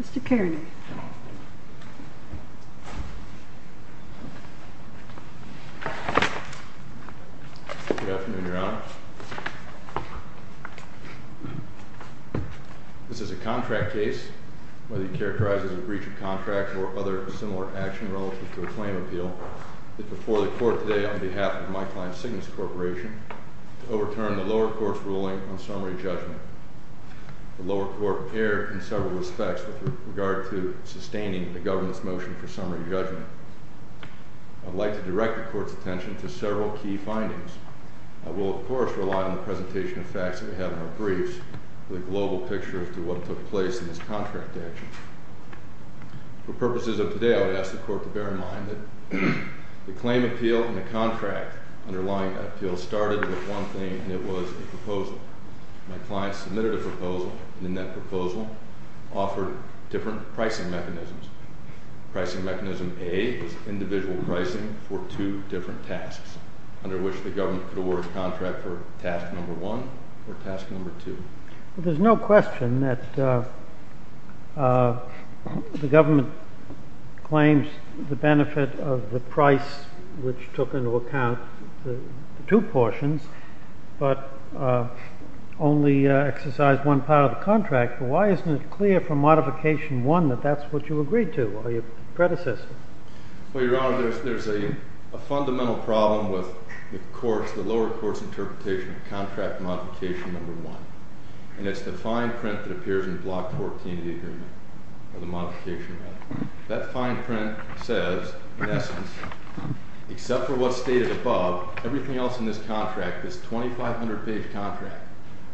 Mr. Kearney. Good afternoon, Your Honor. This is a contract case where he characterizes a breach of contract or other similar action relative to a claim appeal that before the court today on behalf of my client Cygnus Corporation to overturn the lower court's ruling on summary judgment. The lower court erred in several respects with regard to sustaining the government's motion for summary judgment. I'd like to direct the court's attention to several key findings. I will of course rely on the presentation of facts that we have in our briefs for the global picture as to what took place in this contract action. For purposes of today I would ask the court to bear in mind that the claim appeal and the contract underlying that appeal started with one thing and it was a proposal offered different pricing mechanisms. Pricing mechanism A was individual pricing for two different tasks under which the government could award a contract for task number one or task number two. There's no question that the government claims the benefit of the price which took into account the two portions but only exercised one part of the contract. But why isn't it clear from modification one that that's what you agreed to or your predecessor? Well, Your Honor, there's a fundamental problem with the lower court's interpretation of contract modification number one. And it's the fine print that appears in Block 14 of the agreement or the modification. That fine print says, in essence, except for what's stated above, everything else in this contract, this 2,500-page contract,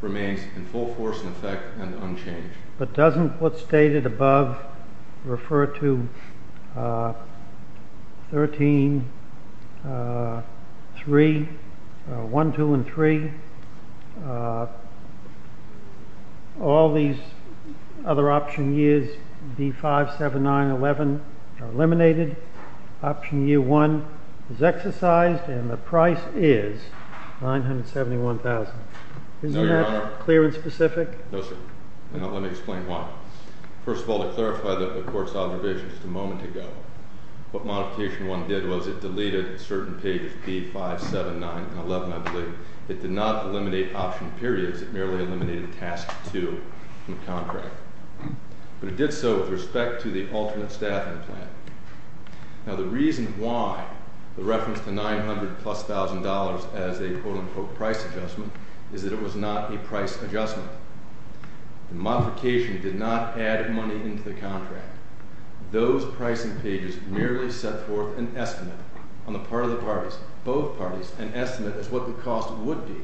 remains in full force and effect and unchanged. But doesn't what's stated above refer to 13, 3, 1, 2, and 3? All these other option years, B, 5, 7, 9, 11, are eliminated. Option year one is exercised and the price is 971,000. Isn't that clear and specific? No, sir. And let me explain why. First of all, to clarify the court's observation just a moment ago, what modification one did was it deleted certain pages, B, 5, 7, 9, and 11, I believe. It did not eliminate option periods. It merely eliminated task two in the contract, but it did so with respect to the alternate staffing plan. Now, the reason why the reference to 900 plus $1,000 as a quote unquote price adjustment is that it was not a price adjustment. The modification did not add money into the contract. Those pricing pages merely set forth an estimate on the part of the parties, both parties, an estimate as to what the cost would be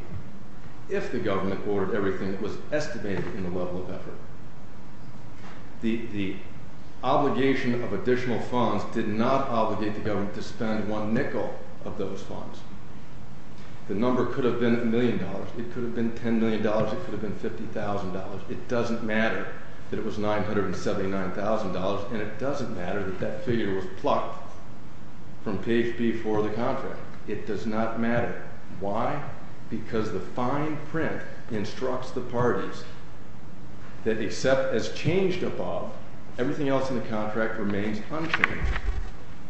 if the government ordered everything that was estimated in the level of effort. The obligation of additional funds did not obligate the government to spend one nickel of those funds. The number could have been a million dollars. It could have been $10 million. It could have been $50,000. It doesn't matter that it was $979,000, and it doesn't matter that that figure was plucked from page B4 of the contract. It does not matter. Why? Because the fine print instructs the parties that except as changed above, everything else in the contract remains unchanged.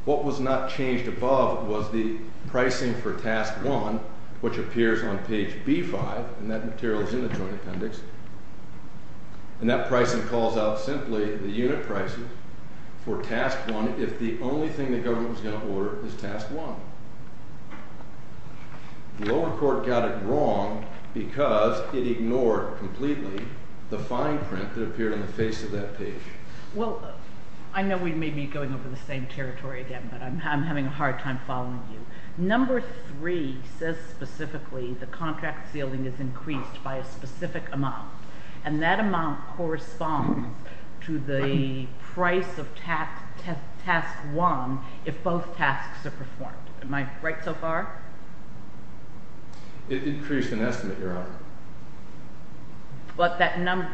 What was not changed above was the pricing for task one, which appears on page B5, and that material is in the joint appendix, and that pricing calls out simply the unit prices for task one if the only thing the government was going to order is task one. The lower court got it wrong because it ignored completely the fine print that appeared on the face of that page. Well, I know we may be going over the same territory again, but I'm having a hard time following you. Number three says specifically the contract ceiling is increased by a specific amount, and that amount corresponds to the price of task one if both tasks are performed. Am I right so far? It increased an estimate, Your Honor. But that number,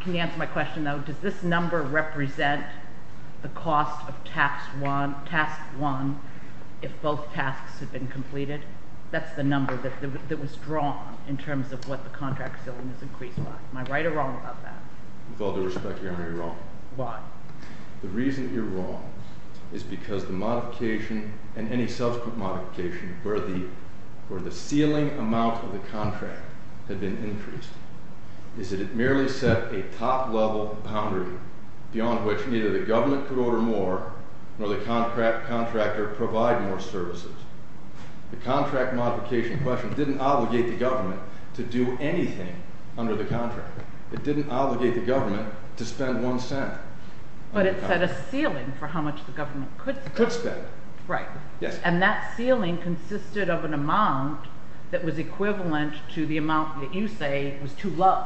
can you answer my question though? Does this number represent the cost of task one if both tasks have been completed? That's the number that was drawn in terms of what the contract ceiling is increased by. Am I right or wrong about that? With all due respect, Your Honor, you're wrong. Why? The reason you're wrong is because the modification and any subsequent modification where the ceiling amount of the contract had been increased. Is that it merely set a top level boundary beyond which neither the government could order more nor the contractor provide more services. The contract modification question didn't obligate the government to do anything under the contract. It didn't obligate the government to spend one cent. But it set a ceiling for how much the government could spend. Right. Yes. And that ceiling consisted of an amount that was equivalent to the amount that you say was too low,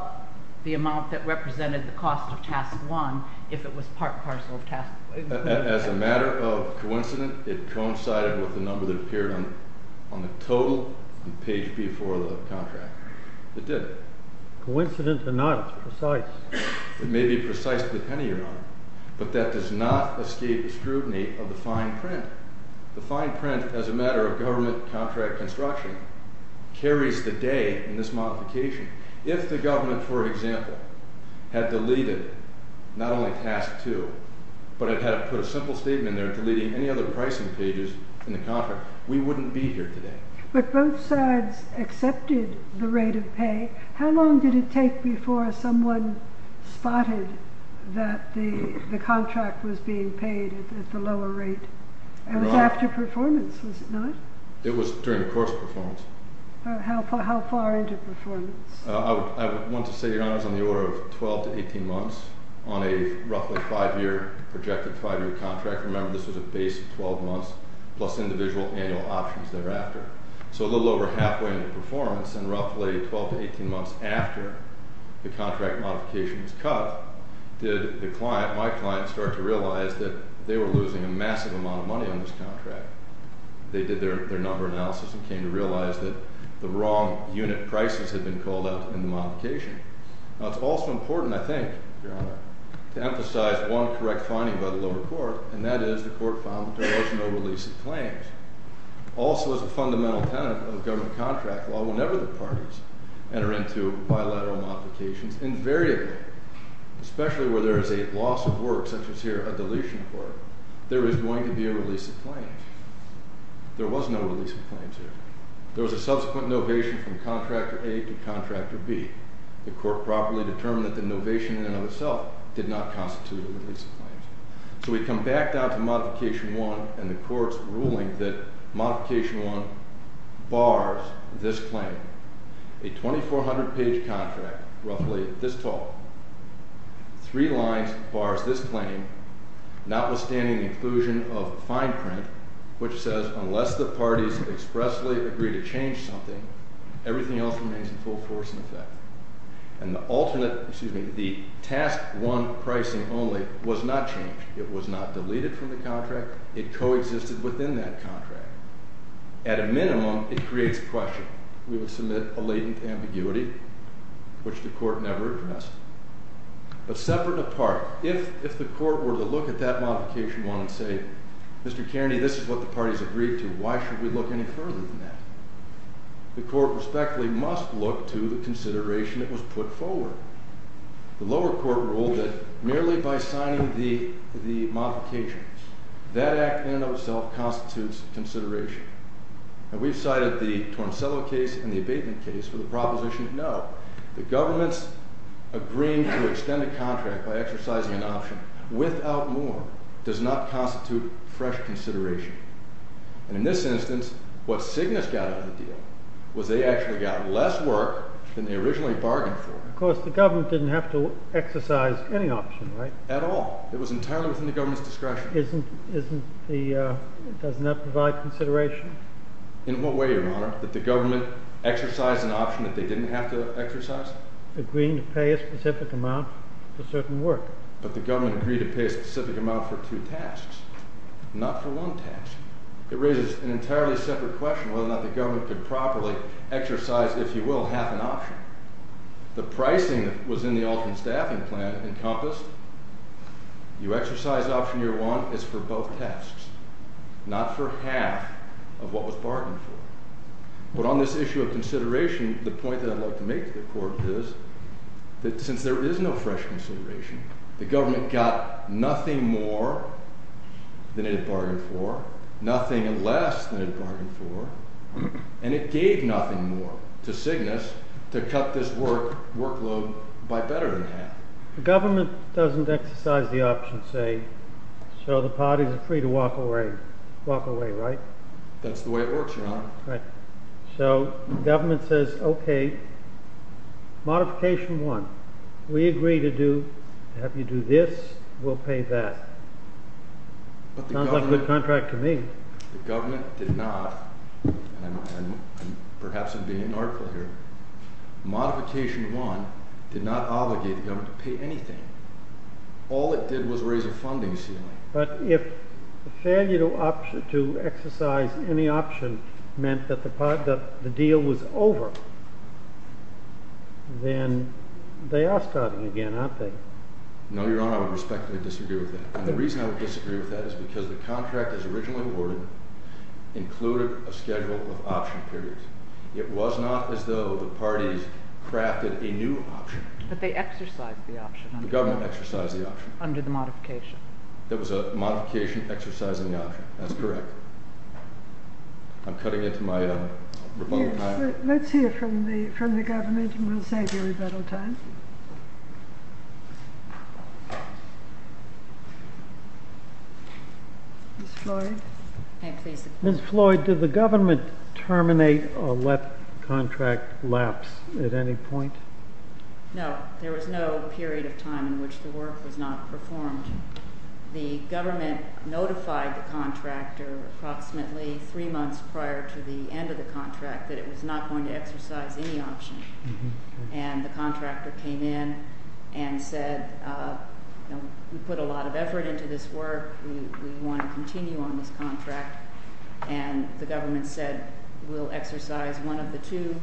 the amount that represented the cost of task one, if it was part and parcel of task one. As a matter of coincidence, it coincided with the number that appeared on the total on page B4 of the contract. It did. Coincident or not, it's precise. It may be precise to the penny, Your Honor. But that does not escape the scrutiny of the fine print. The fine print, as a matter of government contract construction, carries the day in this modification. If the government, for example, had deleted not only task two, but had put a simple statement there deleting any other pricing pages in the contract, we wouldn't be here today. But both sides accepted the rate of pay. How long did it take before someone spotted that the contract was being paid at the lower rate? It was after performance, was it not? It was during course performance. How far into performance? I want to say, Your Honor, it was on the order of 12 to 18 months on a roughly five-year, projected five-year contract. Remember, this was a base of 12 months plus individual annual options thereafter. So a little over halfway into performance, and roughly 12 to 18 months after the contract modification was cut, did my client start to realize that they were losing a massive amount of money on this contract. They did their number analysis and came to realize that the wrong unit prices had been called out in the modification. Now, it's also important, I think, Your Honor, to emphasize one correct finding by the lower court, and that is the court found that there was no release of claims. Also, as a fundamental tenet of government contract law, whenever the parties enter into bilateral modifications, invariably, especially where there is a loss of work such as here, a deletion court, there is going to be a release of claims. There was no release of claims here. There was a subsequent novation from contractor A to contractor B. The court properly determined that the novation in and of itself did not constitute a release of claims. So we come back down to modification one and the court's ruling that modification one bars this claim. A 2,400 page contract, roughly this tall, three lines bars this claim, notwithstanding the inclusion of fine print, which says, unless the parties expressly agree to change something, everything else remains in full force in effect, and the alternate, excuse me, the task one pricing only was not changed. It was not deleted from the contract. It coexisted within that contract. At a minimum, it creates a question. We would submit a latent ambiguity, which the court never addressed, but separate apart. If the court were to look at that modification one and say, Mr. Kearney, this is what the parties agreed to. Why should we look any further than that? The court respectfully must look to the consideration that was put forward. The lower court ruled that merely by signing the modifications, that act in and of itself constitutes consideration. And we've cited the Torricello case and the abatement case for the proposition of no. The government's agreeing to extend a contract by exercising an option without more does not constitute fresh consideration. And in this instance, what Cygnus got out of the deal was they actually got less work than they originally bargained for. Of course, the government didn't have to exercise any option, right? At all. It was entirely within the government's discretion. Isn't the, doesn't that provide consideration? In what way, your honor, that the government exercised an option that they didn't have to exercise? Agreeing to pay a specific amount for certain work. But the government agreed to pay a specific amount for two tasks, not for one task. It raises an entirely separate question whether or not the government could properly exercise, if you will, half an option. The pricing that was in the alternate staffing plan encompassed, you exercise option year one, it's for both tasks. Not for half of what was bargained for. But on this issue of consideration, the point that I'd like to make to the court is that since there is no fresh consideration, the government got nothing more than it had bargained for, nothing less than it had bargained for. And it gave nothing more to Cygnus to cut this work workload by better than half. The government doesn't exercise the option, say, so the parties are free to walk away. Walk away, right? That's the way it works, your honor. Right. So, government says, okay, modification one. We agree to do, have you do this, we'll pay that. But the government. Sounds like a good contract to me. The government did not, and perhaps I'm being unartful here. Modification one did not obligate the government to pay anything. All it did was raise a funding ceiling. But if failure to exercise any option meant that the deal was over, then they are starting again, aren't they? No, your honor, I would respectfully disagree with that. And the reason I would disagree with that is because the contract as originally awarded included a schedule of option periods. It was not as though the parties crafted a new option. But they exercised the option. The government exercised the option. Under the modification. There was a modification exercising the option, that's correct. I'm cutting into my rebuttal time. Let's hear from the government and we'll save your rebuttal time. Ms. Floyd? I'm pleased to. Ms. Floyd, did the government terminate or let contract lapse at any point? No, there was no period of time in which the work was not performed. The government notified the contractor approximately three months prior to the end of the contract that it was not going to exercise any option. And the contractor came in and said, we put a lot of effort into this work. We want to continue on this contract. And the government said, we'll exercise one of the two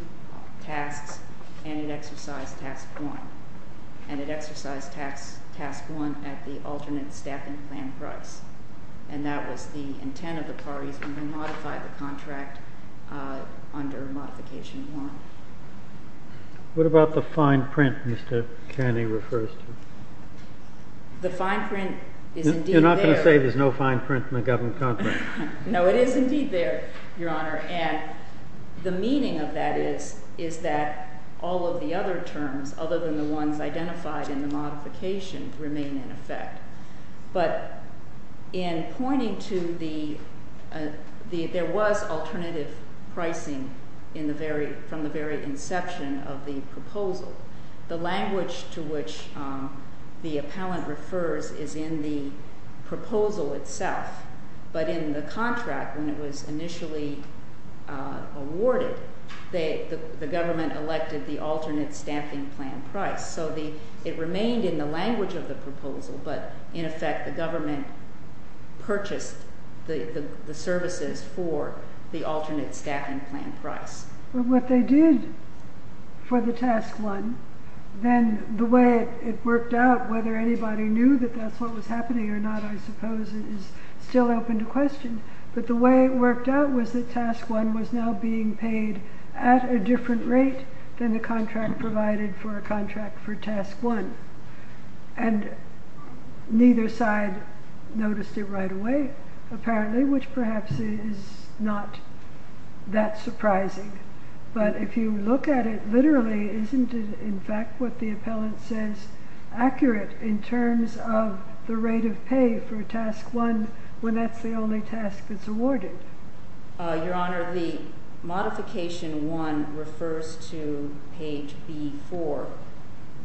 tasks. And it exercised task one. And it exercised task one at the alternate staffing plan price. And that was the intent of the parties when we modified the contract under modification one. What about the fine print Mr. Kenney refers to? The fine print is indeed there. You're not going to say there's no fine print in the government contract. No, it is indeed there, your honor. And the meaning of that is that all of the other terms, other than the ones identified in the modification, remain in effect. But in pointing to the, there was alternative pricing from the very inception of the proposal. The language to which the appellant refers is in the proposal itself. But in the contract, when it was initially awarded, the government elected the alternate staffing plan price. So it remained in the language of the proposal, but in effect, the government purchased the services for the alternate staffing plan price. But what they did for the task one, then the way it worked out, whether anybody knew that that's what was happening or not, I suppose, is still open to question. But the way it worked out was that task one was now being paid at a different rate than the contract provided for a contract for task one. And neither side noticed it right away, apparently, which perhaps is not that surprising. But if you look at it literally, isn't it in fact what the appellant says accurate in terms of the rate of pay for task one when that's the only task that's awarded? Your Honor, the modification one refers to page B4,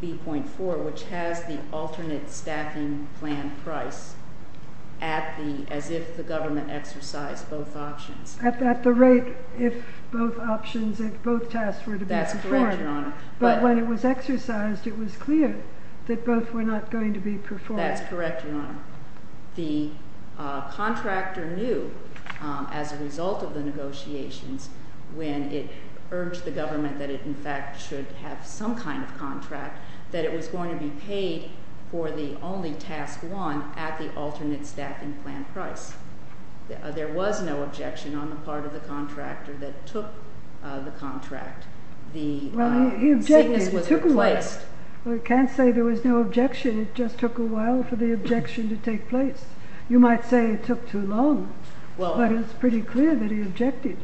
B.4, which has the alternate staffing plan price as if the government exercised both options. At the rate if both options, if both tasks were to be performed. That's correct, Your Honor. But when it was exercised, it was clear that both were not going to be performed. That's correct, Your Honor. The contractor knew, as a result of the negotiations, when it urged the government that it in fact should have some kind of contract, that it was going to be paid for the only task one at the alternate staffing plan price. There was no objection on the part of the contractor that took the contract. The sickness was replaced. Well, you can't say there was no objection. It just took a while for the objection to take place. You might say it took too long, but it's pretty clear that he objected.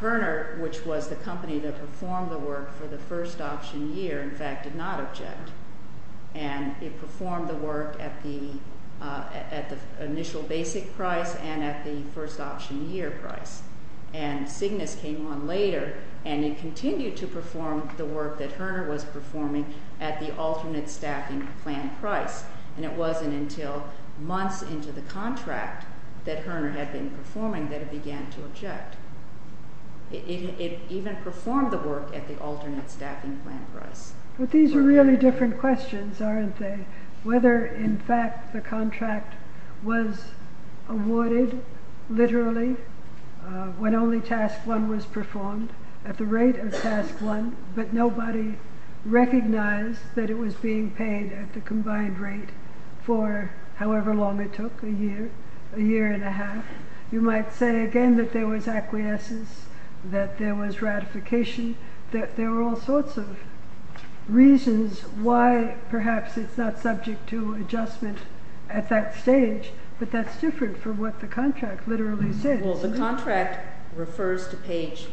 Herner, which was the company that performed the work for the first option year, in fact, did not object. And it performed the work at the initial basic price and at the first option year price. And Cygnus came on later, and it continued to perform the work that Herner was performing at the alternate staffing plan price. And it wasn't until months into the contract that Herner had been performing that it began to object. It even performed the work at the alternate staffing plan price. But these are really different questions, aren't they? Whether, in fact, the contract was awarded literally when only task one was performed at the rate of task one, but nobody recognized that it was being paid at the combined rate for however long it took, a year, a year and a half. You might say, again, that there was acquiescence, that there was ratification, that there were all sorts of reasons why perhaps it's not subject to adjustment at that stage, but that's different from what the contract literally said. Well, the contract refers to page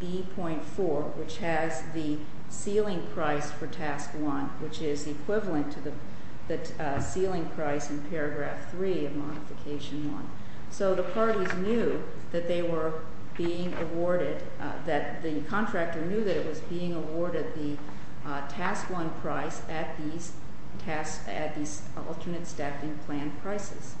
B.4, which has the ceiling price for task one, which is equivalent to the ceiling price in paragraph three of modification one. So the parties knew that they were being awarded, that the contractor knew that it was being awarded the task one price at these alternate staffing plan prices.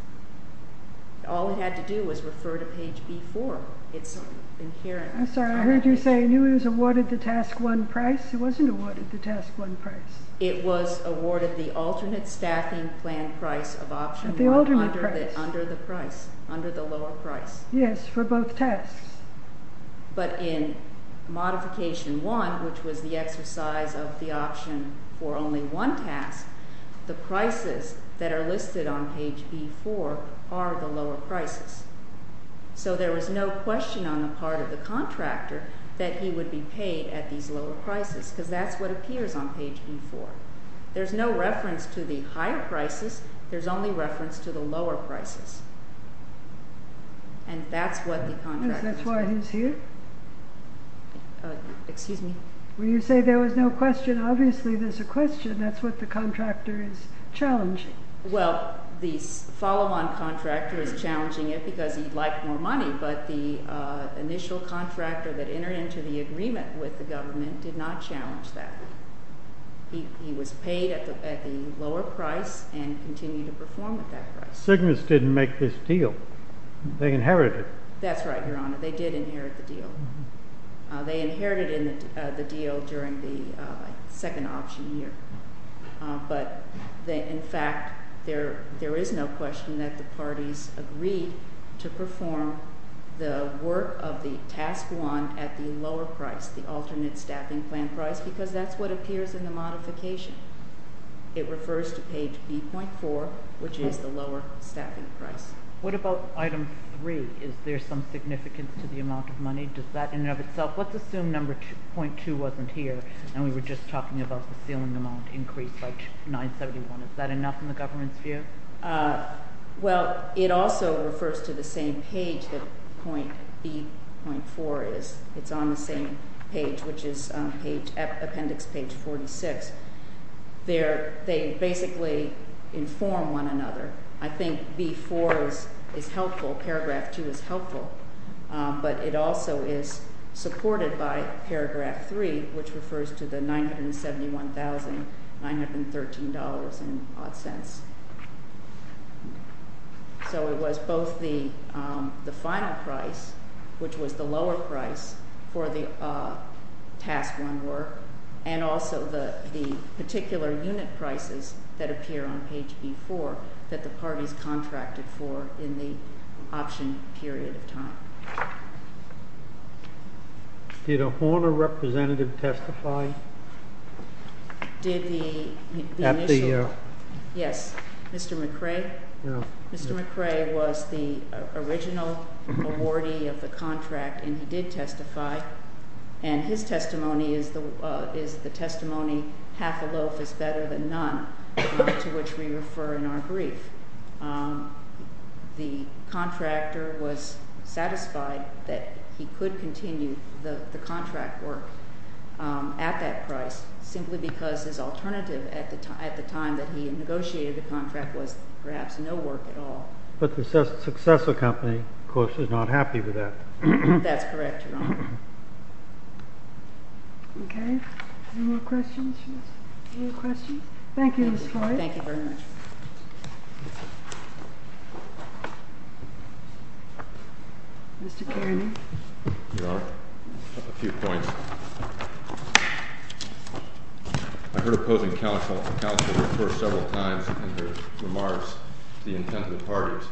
All it had to do was refer to page B.4. It's inherent. I'm sorry, I heard you say, knew it was awarded the task one price. It wasn't awarded the task one price. It was awarded the alternate staffing plan price of option one under the price, under the lower price. Yes, for both tasks. But in modification one, which was the exercise of the option for only one task, the prices that are listed on page B.4 are the lower prices. So there was no question on the part of the contractor that he would be paid at these lower prices, because that's what appears on page B.4. There's no reference to the higher prices. There's only reference to the lower prices. And that's what the contractor said. That's why he's here? Excuse me? When you say there was no question, obviously there's a question. That's what the contractor is challenging. Well, the follow-on contractor is challenging it because he'd like more money. But the initial contractor that entered into the agreement with the government did not challenge that. He was paid at the lower price and continued to perform at that price. Cygnus didn't make this deal. They inherited it. That's right, Your Honor. They did inherit the deal. They inherited the deal during the second option year. But in fact, there is no question that the parties agreed to perform the work of the task one at the lower price, the alternate staffing plan price, because that's what appears in the modification. It refers to page B.4, which is the lower staffing price. What about item 3? Is there some significance to the amount of money? Let's assume number 0.2 wasn't here, and we were just talking about the ceiling amount increased by 971. Is that enough in the government's view? Well, it also refers to the same page that point B.4 is. It's on the same page, which is appendix page 46. They basically inform one another. I think B.4 is helpful. Paragraph 2 is helpful. But it also is supported by paragraph 3, which refers to the $971,913 and odd cents. So it was both the final price, which was the lower price for the task one work, and also the particular unit prices that appear on page B.4 that the parties contracted for in the option period of time. Did a Horner representative testify? Did the initial? Yes. Mr. McRae? Mr. McRae was the original awardee of the contract, and he did testify. And his testimony is the testimony, half a loaf is better than none, to which we refer in our brief. The contractor was satisfied that he could continue the contract work at that price, simply because his alternative at the time that he had negotiated the contract was perhaps no work at all. But the successor company, of course, is not happy with that. That's correct, Your Honor. OK. Any more questions? Yes. Any more questions? Thank you, Ms. Horner. Thank you very much. Mr. Kareny? Your Honor, a few points. I heard opposing counsel report several times in her remarks the intent of the parties.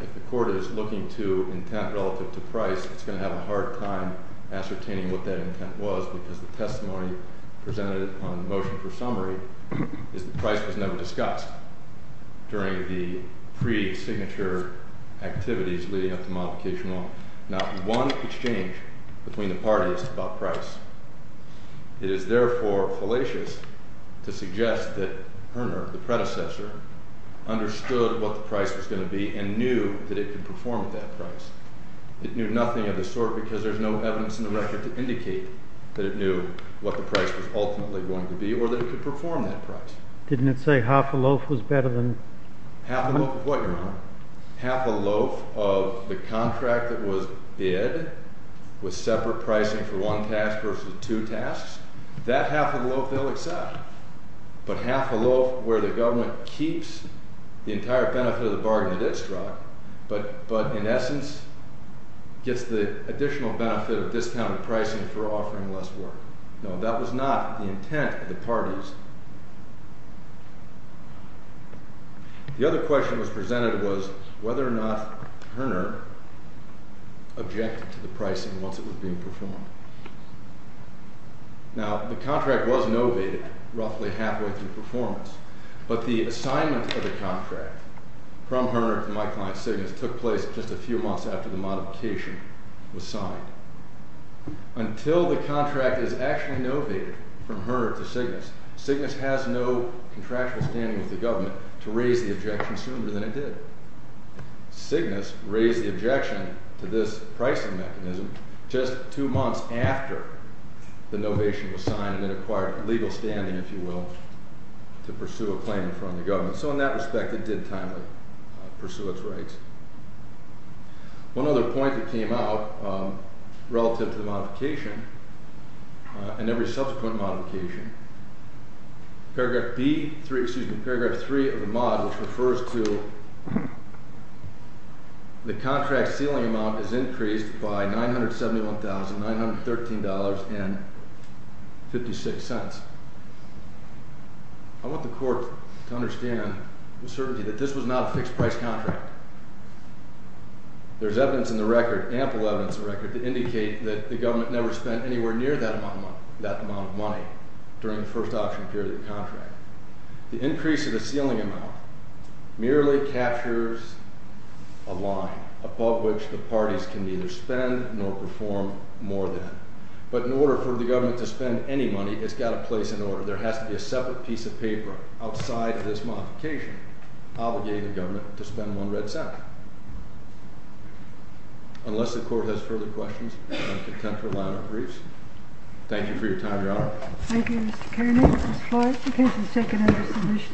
If the court is looking to intent relative to price, it's going to have a hard time ascertaining what that intent was, because the testimony presented on motion for summary is that price was never discussed during the pre-signature activities leading up to modification law. Not one exchange between the parties about price. It is therefore fallacious to suggest that Horner, the predecessor, understood what the price was going to be and knew that it could perform at that price. It knew nothing of the sort because there's no evidence in the record to indicate that it knew what the price was ultimately going to be or that it could perform that price. Didn't it say half a loaf was better than? Half a loaf of what, Your Honor? Half a loaf of the contract that was bid with separate pricing for one task versus two tasks? That half a loaf, they'll accept. But half a loaf where the government keeps the entire benefit of the bargain at its drop, but in essence, gets the additional benefit of discounted pricing for offering less work. No, that was not the intent of the parties. The other question that was presented was whether or not Horner objected to the pricing once it was being performed. Now, the contract was novated roughly halfway through performance. But the assignment of the contract from Horner to my client, Cygnus, took place just a few months after the modification was signed. Until the contract is actually novated from Horner to Cygnus, Cygnus has no contractual standing with the government to raise the objection sooner than it did. Cygnus raised the objection to this pricing mechanism just two months after the novation was signed and it acquired legal standing, if you will, to pursue a claim in front of the government. So in that respect, it did timely pursue its rights. One other point that came out relative to the modification and every subsequent modification, paragraph 3 of the mod, which refers to the contract ceiling amount is increased by $971,913.56. I want the court to understand with certainty that this was not a fixed price contract. There's evidence in the record, ample evidence in the record, to indicate that the government never spent anywhere near that amount of money during the first option period of the contract. The increase of the ceiling amount merely captures a line above which the parties can neither spend nor perform more than. But in order for the government to spend any money, it's got to place an order. There has to be a separate piece of paper outside of this modification obligating the government to spend one red cent. Unless the court has further questions, I'm content for a line of briefs. Thank you for your time, Your Honor. Thank you, Mr. Kerning. Ms. Floyd, the case is taken under submission.